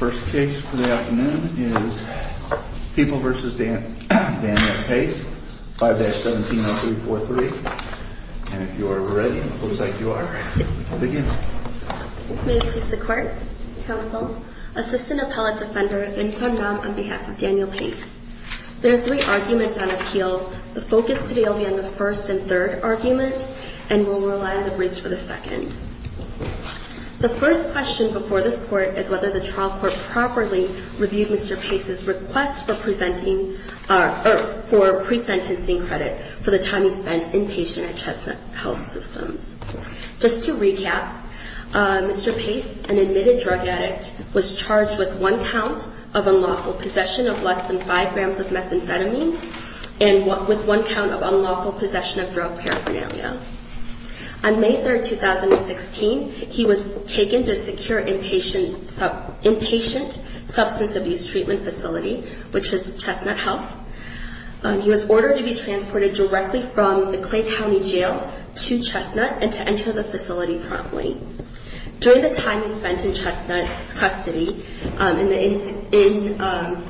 First case for the afternoon is People v. Daniel Pace, 5-170343. And if you are ready, it looks like you are, we can begin. May it please the Court, Counsel, Assistant Appellate Defender Vinh Xuan Nam on behalf of Daniel Pace. There are three arguments on appeal. The focus today will be on the first and third arguments, and we'll rely on the briefs for the second. The first question before this Court is whether the trial court properly reviewed Mr. Pace's request for pre-sentencing credit for the time he spent inpatient at Chestnut Health Systems. Just to recap, Mr. Pace, an admitted drug addict, was charged with one count of unlawful possession of less than 5 grams of methamphetamine and with one count of unlawful possession of drug paraphernalia. On May 3, 2016, he was taken to a secure inpatient substance abuse treatment facility, which was Chestnut Health. He was ordered to be transported directly from the Clay County Jail to Chestnut and to enter the facility promptly. During the time he spent in Chestnut's custody in the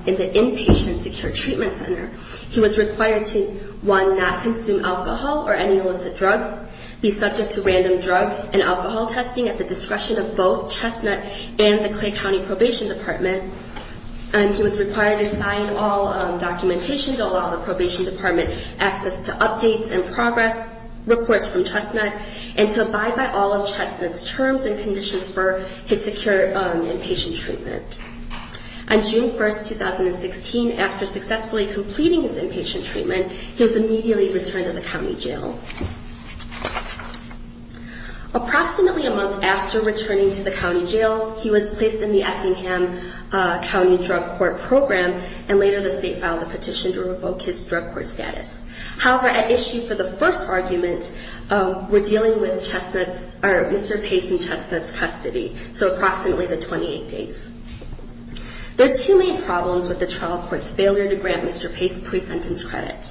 inpatient secure treatment center, he was required to, one, not consume alcohol or any illicit drugs, be subject to random drug and alcohol testing at the discretion of both Chestnut and the Clay County Probation Department. He was required to sign all documentation to allow the Probation Department access to updates and progress reports from Chestnut and to abide by all of Chestnut's terms and conditions for his secure inpatient treatment. On June 1, 2016, after successfully completing his inpatient treatment, he was immediately returned to the county jail. Approximately a month after returning to the county jail, he was placed in the Effingham County Drug Court Program, and later the state filed a petition to revoke his drug court status. However, at issue for the first argument, we're dealing with Mr. Pace in Chestnut's custody, so approximately the 28 days. There are two main problems with the trial court's failure to grant Mr. Pace pre-sentence credit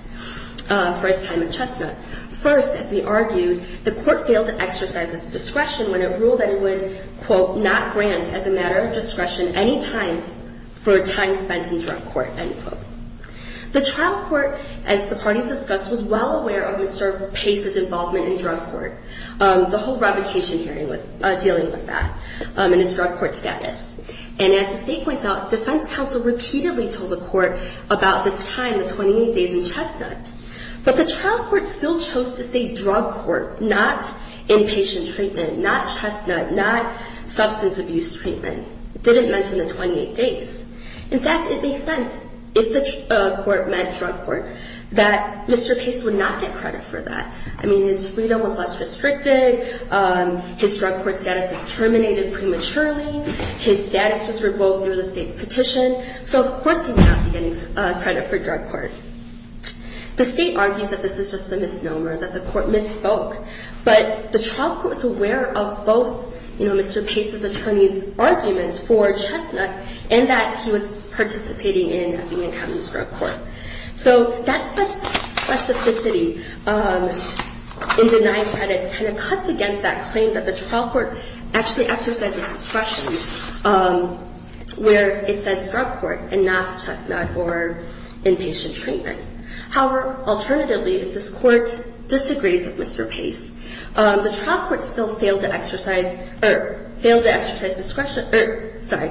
for his time in Chestnut. First, as we argued, the court failed to exercise its discretion when it ruled that it would, quote, not grant as a matter of discretion any time for time spent in drug court, end quote. The trial court, as the parties discussed, was well aware of Mr. Pace's involvement in drug court. The whole revocation hearing was dealing with that and his drug court status. And as the state points out, defense counsel repeatedly told the court about this time, the 28 days in Chestnut. But the trial court still chose to say drug court, not inpatient treatment, not Chestnut, not substance abuse treatment. It didn't mention the 28 days. In fact, it makes sense, if the court meant drug court, that Mr. Pace would not get credit for that. I mean, his freedom was less restricted, his drug court status was terminated prematurely, his status was revoked through the state's petition, so of course he would not be getting credit for drug court. The state argues that this is just a misnomer, that the court misspoke. But the trial court was aware of both, you know, Mr. Pace's attorney's arguments for Chestnut and that he was participating in the incoming drug court. So that specificity in denying credit kind of cuts against that claim that the trial court actually exercised its discretion where it says drug court and not Chestnut or inpatient treatment. However, alternatively, if this court disagrees with Mr. Pace, the trial court still failed to exercise or failed to exercise discretion or, sorry,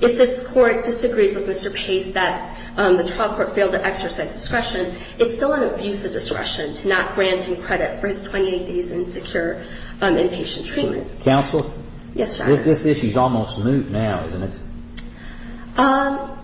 if this court disagrees with Mr. Pace that the trial court failed to exercise discretion, it's still an abuse of discretion to not grant him credit for his 28 days in secure inpatient treatment. Counsel? Yes, Your Honor. This issue is almost moot now, isn't it? Your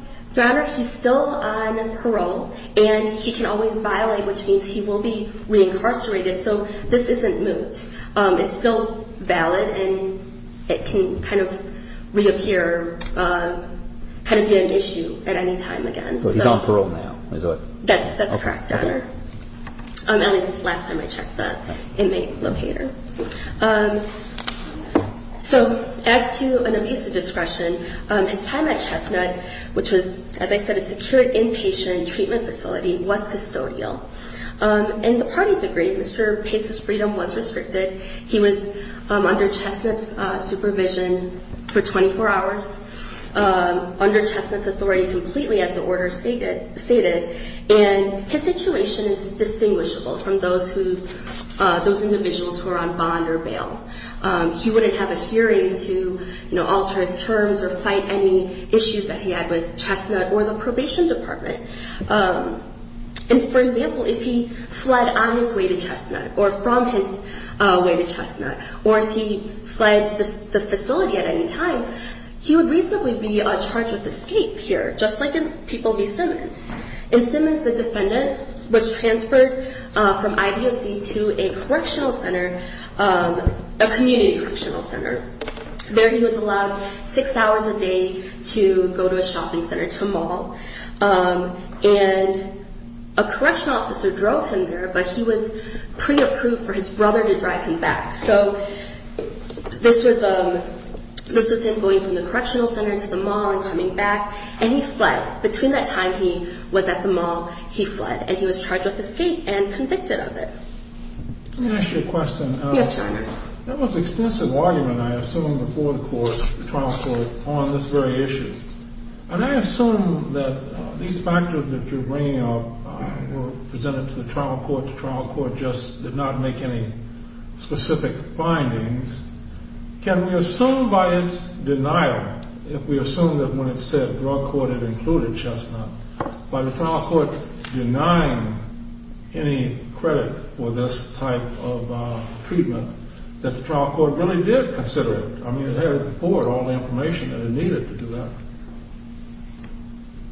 Honor, he's still on parole and he can always violate, which means he will be reincarcerated. So this isn't moot. It's still valid and it can kind of reappear, kind of be an issue at any time again. So he's on parole now, is it? That's correct, Your Honor. That is the last time I checked the inmate locator. So as to an abuse of discretion, his time at Chestnut, which was, as I said, a secure inpatient treatment facility, was custodial. And the parties agreed Mr. Pace's freedom was restricted. He was under Chestnut's supervision for 24 hours, under Chestnut's authority completely as the order stated. And his situation is distinguishable from those individuals who are on bond or bail. He wouldn't have a hearing to alter his terms or fight any issues that he had with Chestnut or the probation department. And, for example, if he fled on his way to Chestnut or from his way to Chestnut or if he fled the facility at any time, he would reasonably be charged with escape here, just like in People v. Simmons. In Simmons, the defendant was transferred from IDOC to a correctional center, a community correctional center. There he was allowed six hours a day to go to a shopping center, to a mall. And a correctional officer drove him there, but he was pre-approved for his brother to drive him back. So this was him going from the correctional center to the mall and coming back. And he fled. Between that time he was at the mall, he fled. And he was charged with escape and convicted of it. Let me ask you a question. Yes, Your Honor. There was extensive argument, I assume, before the trial court on this very issue. And I assume that these factors that you're bringing up were presented to the trial court. The trial court just did not make any specific findings. Can we assume by its denial, if we assume that when it said the drug court had included Chestnut, by the trial court denying any credit for this type of treatment, that the trial court really did consider it? I mean, it had before all the information that it needed to do that.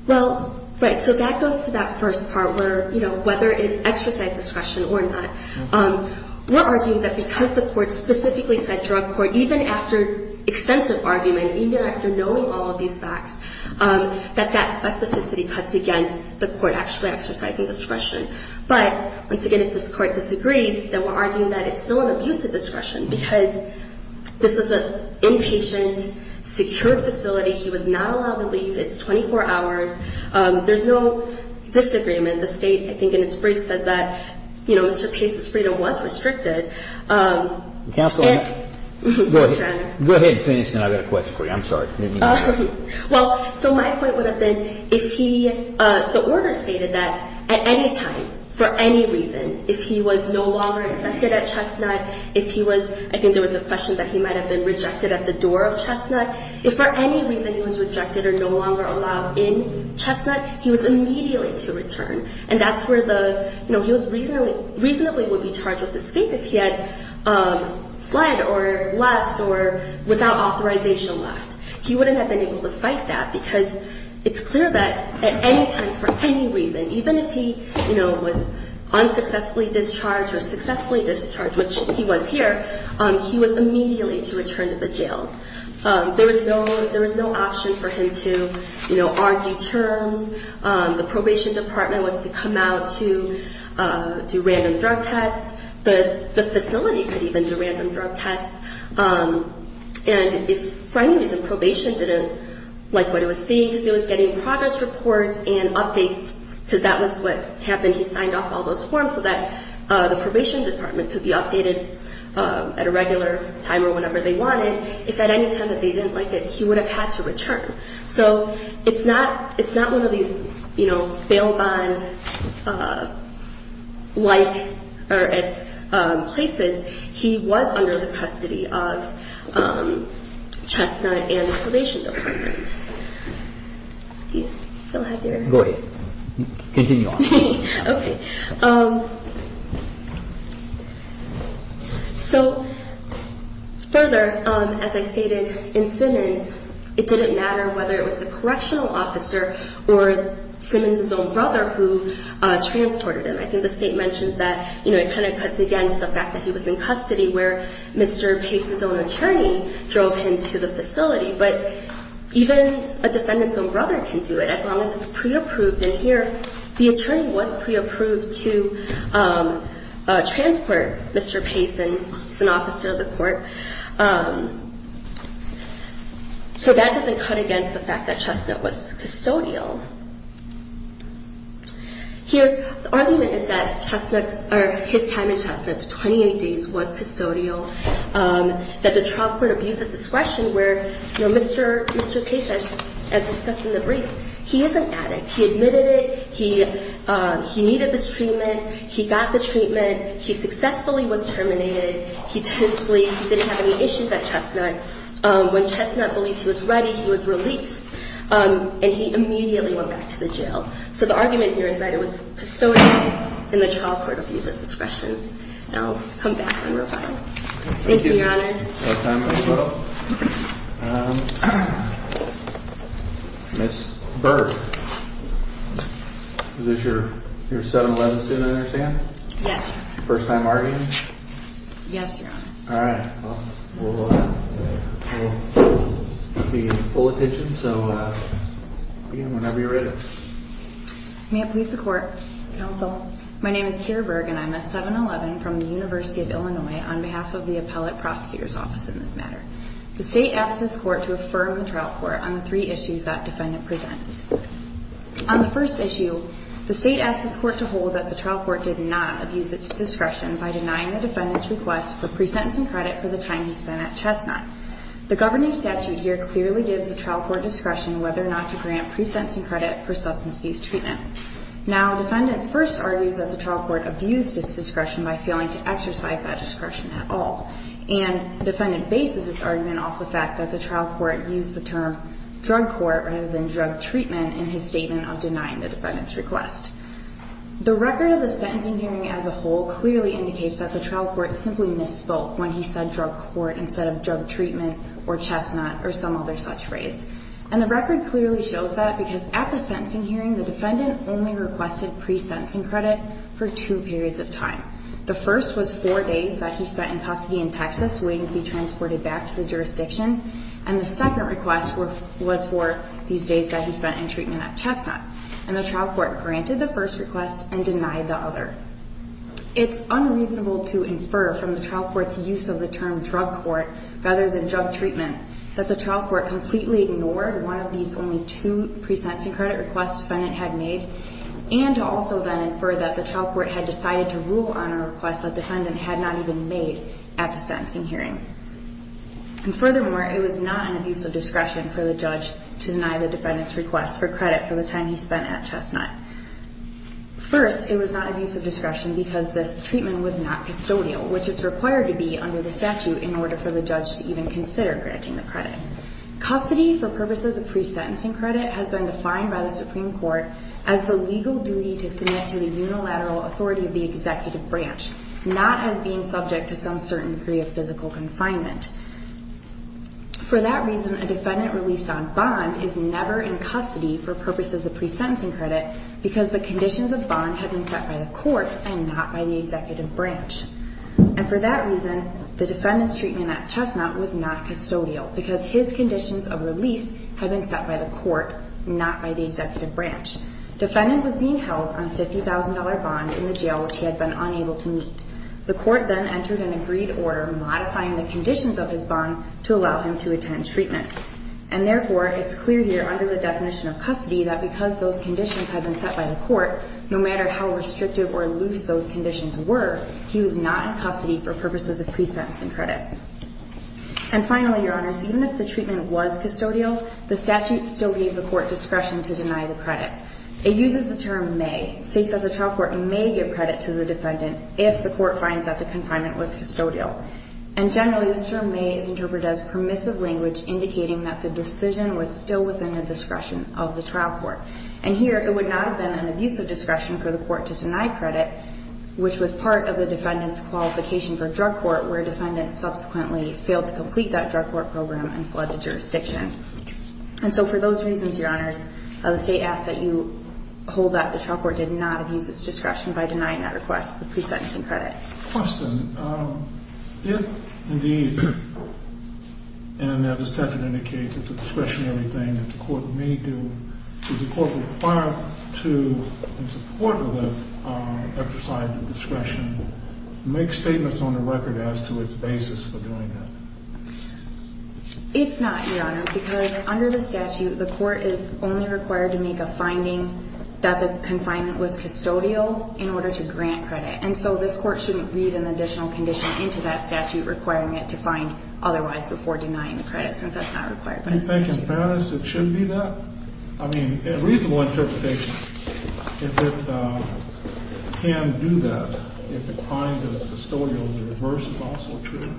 Well, right. So that goes to that first part where, you know, whether it exercised discretion or not. We're arguing that because the court specifically said drug court, even after extensive argument, even after knowing all of these facts, that that specificity cuts against the court actually exercising discretion. But, once again, if this court disagrees, then we're arguing that it's still an abuse of discretion because this is an inpatient, secure facility. He was not allowed to leave. It's 24 hours. There's no disagreement. The State, I think, in its brief says that, you know, Mr. Paisa's freedom was restricted. Counsel, go ahead and finish and I've got a question for you. I'm sorry. Well, so my point would have been if he – the order stated that at any time, for any reason, if he was no longer accepted at Chestnut, if he was – I think there was a question that he might have been rejected at the door of Chestnut. If for any reason he was rejected or no longer allowed in Chestnut, he was immediately to return. And that's where the – you know, he was reasonably – reasonably would be charged with escape if he had fled or left or without authorization left. He wouldn't have been able to fight that because it's clear that at any time, for any reason, even if he, you know, was unsuccessfully discharged or successfully discharged, which he was here, he was immediately to return to the jail. There was no – there was no option for him to, you know, argue terms. The probation department was to come out to do random drug tests. The facility could even do random drug tests. And if for any reason probation didn't like what it was seeing, because it was getting progress reports and updates because that was what happened, he signed off all those forms so that the probation department could be updated at a regular time or whenever they wanted. If at any time that they didn't like it, he would have had to return. So it's not – it's not one of these, you know, bail bond-like places. He was under the custody of Chestnut and the probation department. Do you still have your – Go ahead. Continue on. Okay. So further, as I stated, in Simmons, it didn't matter whether it was the correctional officer or Simmons' own brother who transported him. I think the state mentioned that, you know, it kind of cuts against the fact that he was in custody where Mr. Pace's own attorney drove him to the facility. But even a defendant's own brother can do it as long as it's pre-approved. And here the attorney was pre-approved to transport Mr. Pace, and he's an officer of the court. So that doesn't cut against the fact that Chestnut was custodial. Here the argument is that Chestnut's – or his time in Chestnut, the 28 days, was custodial, that the trial court abused his discretion where, you know, Mr. Pace, as discussed in the briefs, he is an addict. He admitted it. He needed this treatment. He got the treatment. He successfully was terminated. He didn't have any issues at Chestnut. When Chestnut believed he was ready, he was released. And he immediately went back to the jail. So the argument here is that it was custodial, and the trial court abused his discretion. I'll come back and reply. Thank you, Your Honors. Thank you. Ms. Berg, is this your 7-11 student, I understand? Yes, Your Honor. First time arguing? Yes, Your Honor. All right. Well, we'll be in full attention. So, again, whenever you're ready. May it please the Court. Counsel. My name is Keira Berg, and I'm a 7-11 from the University of Illinois on behalf of the Appellate Prosecutor's Office in this matter. The State asked this Court to affirm the trial court on the three issues that defendant presents. On the first issue, the State asked this Court to hold that the trial court did not abuse its discretion by denying the defendant's request for pre-sentencing credit for the time he spent at Chestnut. The governing statute here clearly gives the trial court discretion whether or not to grant pre-sentencing credit for substance abuse treatment. Now, defendant first argues that the trial court abused its discretion by failing to exercise that discretion at all. And defendant bases this argument off the fact that the trial court used the term drug court rather than drug treatment in his statement of denying the defendant's request. The record of the sentencing hearing as a whole clearly indicates that the trial court simply misspoke when he said drug court instead of drug treatment or Chestnut or some other such phrase. And the record clearly shows that because at the sentencing hearing, the defendant only requested pre-sentencing credit for two periods of time. The first was four days that he spent in custody in Texas waiting to be transported back to the jurisdiction. And the second request was for these days that he spent in treatment at Chestnut. And the trial court granted the first request and denied the other. It's unreasonable to infer from the trial court's use of the term drug court rather than drug treatment that the trial court completely ignored one of these only two pre-sentencing credit requests defendant had made and also then infer that the trial court had decided to rule on a request that defendant had not even made at the sentencing hearing. And furthermore, it was not an abuse of discretion for the judge to deny the defendant's request for credit for the time he spent at Chestnut. First, it was not abuse of discretion because this treatment was not custodial, which is required to be under the statute in order for the judge to even consider granting the credit. Custody for purposes of pre-sentencing credit has been defined by the Supreme Court as the legal duty to submit to the unilateral authority of the executive branch, not as being subject to some certain degree of physical confinement. For that reason, a defendant released on bond is never in custody for purposes of pre-sentencing credit because the conditions of bond had been set by the court and not by the executive branch. And for that reason, the defendant's treatment at Chestnut was not custodial because his conditions of release had been set by the court, not by the executive branch. The defendant was being held on a $50,000 bond in the jail which he had been unable to meet. The court then entered an agreed order modifying the conditions of his bond to allow him to attend treatment. And therefore, it's clear here under the definition of custody that because those conditions had been set by the court, no matter how restrictive or loose those conditions were, he was not in custody for purposes of pre-sentencing credit. And finally, Your Honors, even if the treatment was custodial, it uses the term may, states that the trial court may give credit to the defendant if the court finds that the confinement was custodial. And generally, this term may is interpreted as permissive language indicating that the decision was still within the discretion of the trial court. And here, it would not have been an abusive discretion for the court to deny credit, which was part of the defendant's qualification for drug court where a defendant subsequently failed to complete that drug court program and fled the jurisdiction. And so for those reasons, Your Honors, the state asks that you hold that the trial court did not abuse its discretion by denying that request for pre-sentencing credit. Question. If indeed, and as the statute indicates, it's a discretionary thing that the court may do, does the court require to, in support of it, exercise the discretion to make statements on the record as to its basis for doing that? It's not, Your Honor, because under the statute, the court is only required to make a finding that the confinement was custodial in order to grant credit. And so this court shouldn't read an additional condition into that statute requiring it to find otherwise before denying the credit, since that's not required. Do you think in fairness it should be that? I mean, a reasonable interpretation, if it can do that, if the finding is custodial in reverse is also true.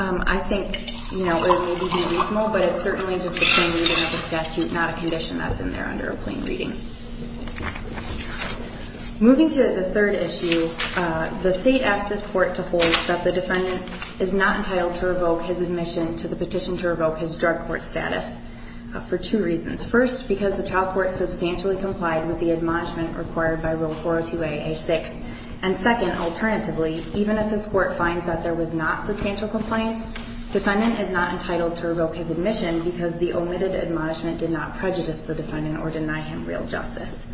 I think, you know, it would be reasonable, but it's certainly just the same reason as the statute, not a condition that's in there under a plain reading. Moving to the third issue, the state asks this court to hold that the defendant is not entitled to revoke his admission to the petition to revoke his drug court status for two reasons. First, because the trial court substantially complied with the admonishment required by Rule 402a)(a)(6), and second, alternatively, even if this court finds that there was not substantial compliance, defendant is not entitled to revoke his admission because the omitted admonishment did not prejudice the defendant or deny him real justice.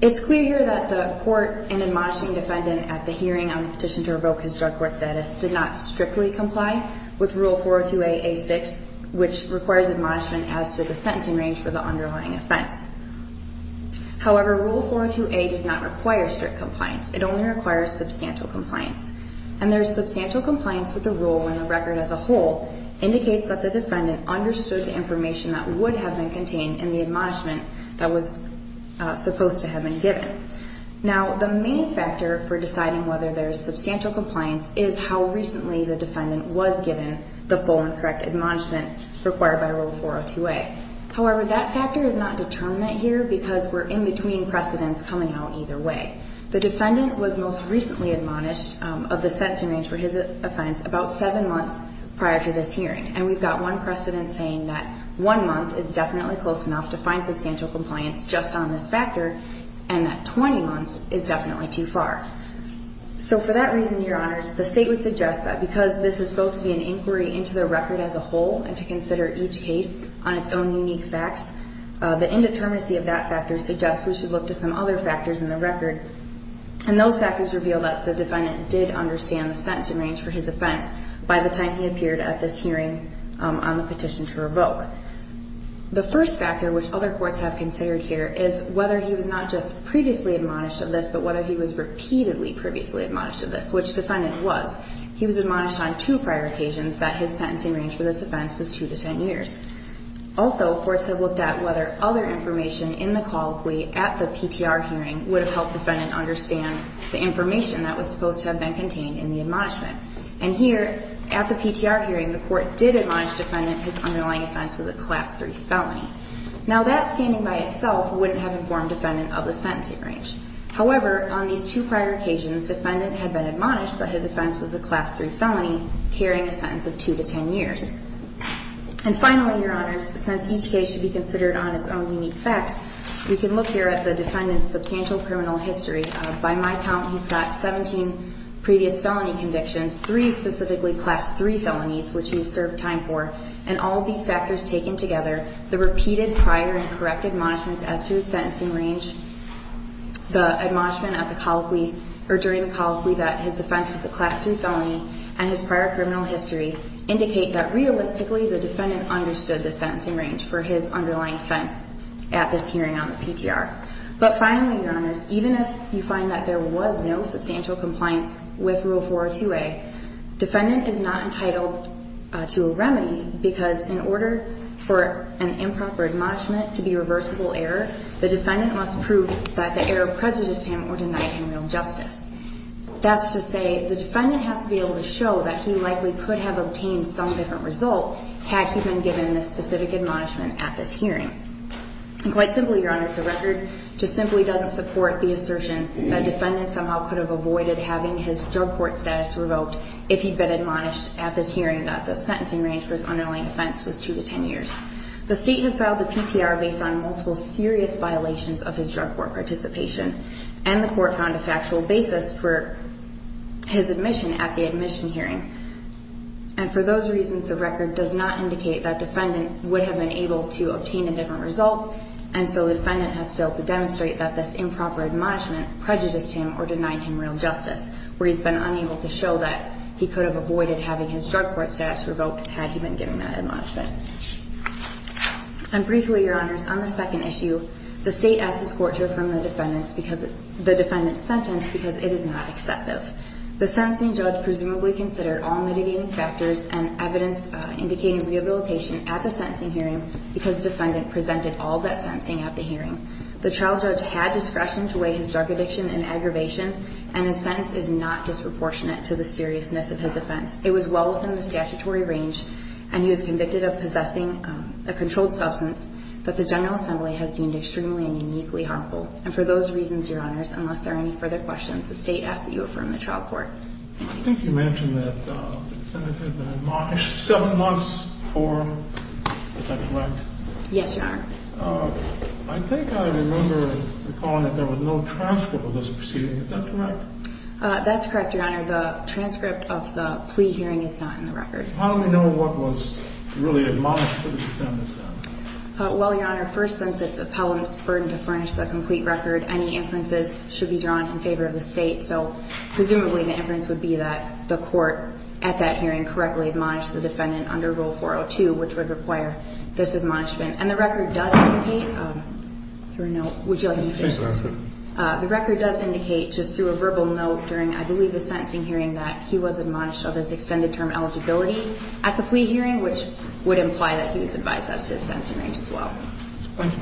It's clear here that the court in admonishing defendant at the hearing on the petition to revoke his drug court status did not strictly comply with Rule 402a)(a)(6), which requires admonishment as to the sentencing range for the underlying offense. However, Rule 402a does not require strict compliance. It only requires substantial compliance. And there's substantial compliance with the rule when the record as a whole indicates that the defendant understood the information that would have been contained in the admonishment that was supposed to have been given. Now, the main factor for deciding whether there's substantial compliance is how recently the defendant was given the full and correct admonishment required by Rule 402a. However, that factor is not determined here because we're in between precedents coming out either way. The defendant was most recently admonished of the sentencing range for his offense about seven months prior to this hearing. And we've got one precedent saying that one month is definitely close enough to find substantial compliance just on this factor and that 20 months is definitely too far. So for that reason, Your Honors, the state would suggest that because this is supposed to be an inquiry into the record as a whole and to consider each case on its own unique facts, the indeterminacy of that factor suggests we should look to some other factors in the record. And those factors reveal that the defendant did understand the sentencing range for his offense by the time he appeared at this hearing on the petition to revoke. The first factor, which other courts have considered here, is whether he was not just previously admonished of this but whether he was repeatedly previously admonished of this, which the defendant was. He was admonished on two prior occasions that his sentencing range for this offense was two to ten years. Also, courts have looked at whether other information in the colloquy at the PTR hearing would have helped the defendant understand the information that was supposed to have been contained in the admonishment. And here, at the PTR hearing, the court did admonish the defendant his underlying offense was a Class III felony. Now that, standing by itself, wouldn't have informed the defendant of the sentencing range. However, on these two prior occasions, the defendant had been admonished that his offense was a Class III felony carrying a sentence of two to ten years. And finally, Your Honors, since each case should be considered on its own unique facts, we can look here at the defendant's substantial criminal history. By my count, he's got 17 previous felony convictions, three specifically Class III felonies, which he has served time for. And all of these factors taken together, the repeated prior and correct admonishments as to his sentencing range, the admonishment of the colloquy, or during the colloquy that his offense was a Class III felony, and his prior criminal history, indicate that realistically the defendant understood the sentencing range for his underlying offense at this hearing on the PTR. But finally, Your Honors, even if you find that there was no substantial compliance with Rule 402A, defendant is not entitled to a remedy because in order for an improper admonishment to be a reversible error, the defendant must prove that the error prejudiced him or denied him real justice. That's to say the defendant has to be able to show that he likely could have obtained some different result had he been given this specific admonishment at this hearing. And quite simply, Your Honors, the record just simply doesn't support the assertion that defendant somehow could have avoided having his drug court status revoked if he'd been admonished at this hearing that the sentencing range for his underlying offense was 2 to 10 years. The state had filed the PTR based on multiple serious violations of his drug court participation, and the court found a factual basis for his admission at the admission hearing. And for those reasons, the record does not indicate that defendant would have been able to obtain a different result, and so the defendant has failed to demonstrate that this improper admonishment prejudiced him or denied him real justice, where he's been unable to show that he could have avoided having his drug court status revoked had he been given that admonishment. And briefly, Your Honors, on the second issue, the state asked this court to affirm the defendant's sentence because it is not excessive. The sentencing judge presumably considered all mitigating factors and evidence indicating rehabilitation at the sentencing hearing because defendant presented all that sentencing at the hearing. The trial judge had discretion to weigh his drug addiction and aggravation, and his sentence is not disproportionate to the seriousness of his offense. It was well within the statutory range, and he was convicted of possessing a controlled substance that the General Assembly has deemed extremely and uniquely harmful. And for those reasons, Your Honors, unless there are any further questions, the state asks that you affirm the trial court. I think you mentioned that the defendant had been admonished seven months for him. Is that correct? Yes, Your Honor. I think I remember recalling that there was no transcript of this proceeding. Is that correct? That's correct, Your Honor. The transcript of the plea hearing is not in the record. How do we know what was really admonished to the defendant then? Well, Your Honor, first, since it's appellant's burden to furnish the complete record, any inferences should be drawn in favor of the state. So presumably the inference would be that the court at that hearing correctly admonished the defendant under Rule 402, which would require this admonishment. And the record does indicate through a note. Would you like me to finish? Please go ahead. The record does indicate just through a verbal note during I believe the sentencing hearing that he was admonished of his extended term eligibility at the plea hearing, which would imply that he was advised of his sentencing range as well. Thank you.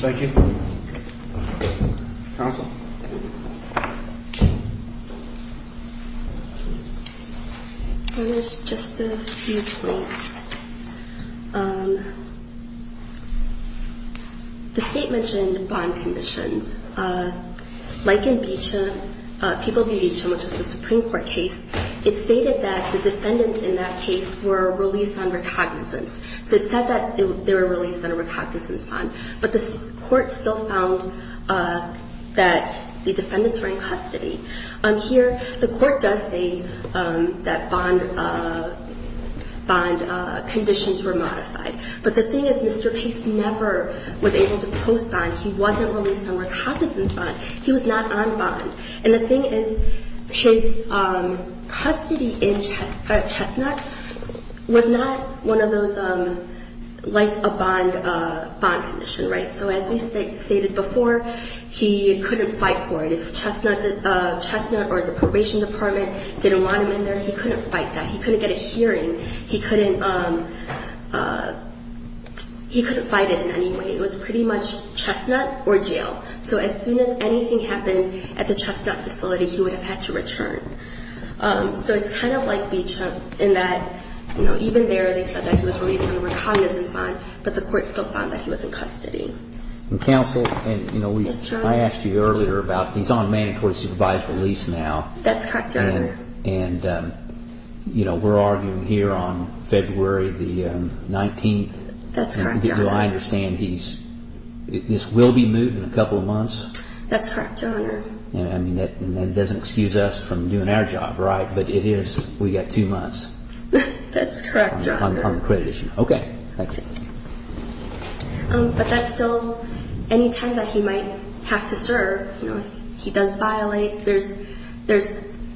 Thank you, Your Honor. Thank you. Counsel. Let me finish just a few points. The state mentioned bond conditions. Like in Beecher, People v. Beecher, which is a Supreme Court case, it stated that the defendants in that case were released on recognizance. So it said that they were released on a recognizance bond. But the court still found that the defendants were in custody. Here the court does say that bond conditions were modified. But the thing is Mr. Case never was able to post bond. He wasn't released on recognizance bond. He was not on bond. And the thing is his custody in Chestnut was not one of those like a bond condition. So as we stated before, he couldn't fight for it. If Chestnut or the probation department didn't want him in there, he couldn't fight that. He couldn't get a hearing. He couldn't fight it in any way. It was pretty much Chestnut or jail. So as soon as anything happened at the Chestnut facility, he would have had to return. So it's kind of like Beecher in that even there they said that he was released on a recognizance bond, but the court still found that he was in custody. Counsel, I asked you earlier about he's on mandatory supervised release now. That's correct, Your Honor. And we're arguing here on February the 19th. That's correct, Your Honor. Do I understand this will be moved in a couple of months? That's correct, Your Honor. And that doesn't excuse us from doing our job, right? But it is we've got two months. That's correct, Your Honor. On the credit issue. Okay. Thank you. But that's still any time that he might have to serve. If he does violate, there's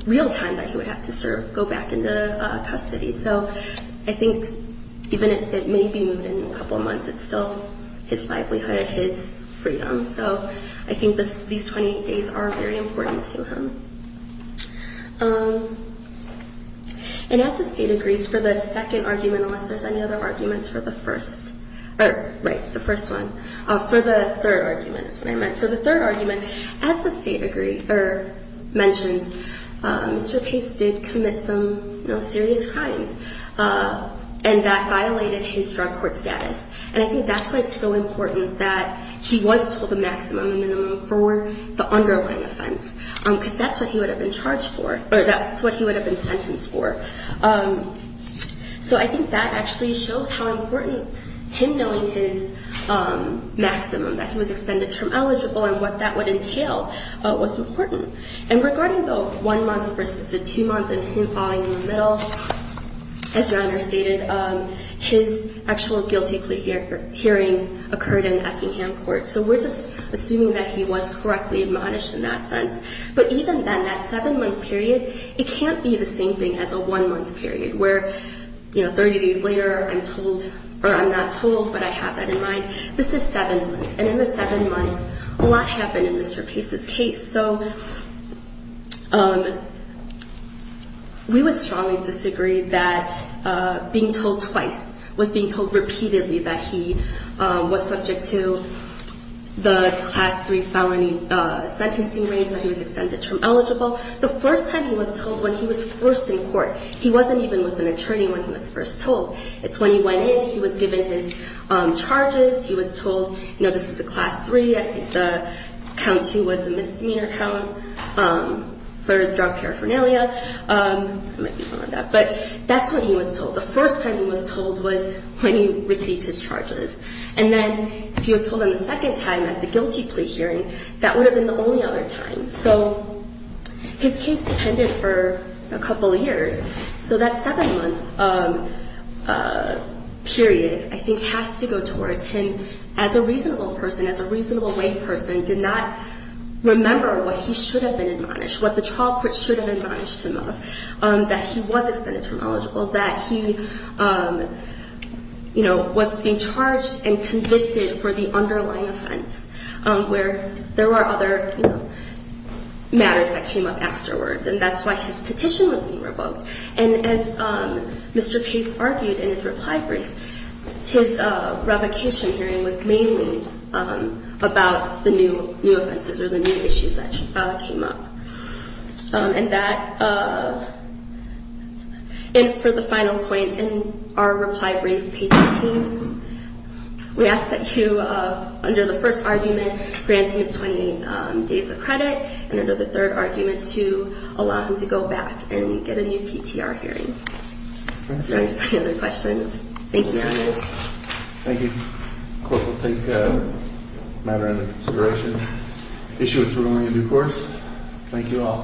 real time that he would have to serve, go back into custody. So I think even if it may be moved in a couple of months, it's still his livelihood and his freedom. So I think these 28 days are very important to him. And as the State agrees for the second argument, unless there's any other arguments for the first. Right, the first one. For the third argument is what I meant. For the third argument, as the State mentions, Mr. Pace did commit some serious crimes, and that violated his drug court status. And I think that's why it's so important that he was told the maximum and the minimum for the underlying offense, because that's what he would have been charged for, or that's what he would have been sentenced for. So I think that actually shows how important him knowing his maximum, that he was extended term eligible and what that would entail, was important. And regarding the one month versus the two month and him falling in the middle, as Your Honor stated, his actual guilty plea hearing occurred in Effingham Court. So we're just assuming that he was correctly admonished in that sense. But even then, that seven month period, it can't be the same thing as a one month period where, you know, 30 days later, I'm told, or I'm not told, but I have that in mind. This is seven months. And in the seven months, a lot happened in Mr. Pace's case. So we would strongly disagree that being told twice was being told repeatedly that he was subject to the Class 3 felony sentencing range, that he was extended term eligible. The first time he was told when he was first in court, he wasn't even with an attorney when he was first told. It's when he went in, he was given his charges. He was told, you know, this is a Class 3. I think the count two was a misdemeanor count for drug paraphernalia. I might be wrong on that. But that's when he was told. The first time he was told was when he received his charges. And then if he was told on the second time at the guilty plea hearing, that would have been the only other time. So his case depended for a couple of years. So that seven-month period, I think, has to go towards him as a reasonable person, as a reasonable-weight person, did not remember what he should have been admonished, what the trial court should have admonished him of, that he was extended term eligible, that he, you know, was being charged and convicted for the underlying offense, where there were other matters that came up afterwards. And that's why his petition was being revoked. And as Mr. Pace argued in his reply brief, his revocation hearing was mainly about the new offenses or the new issues that came up. And for the final point, in our reply brief, we ask that you, under the first argument, grant him his 20 days of credit, and under the third argument, to allow him to go back and get a new PTR hearing. Are there any other questions? Thank you, Your Honors. Thank you. The court will take matter into consideration. Thank you all.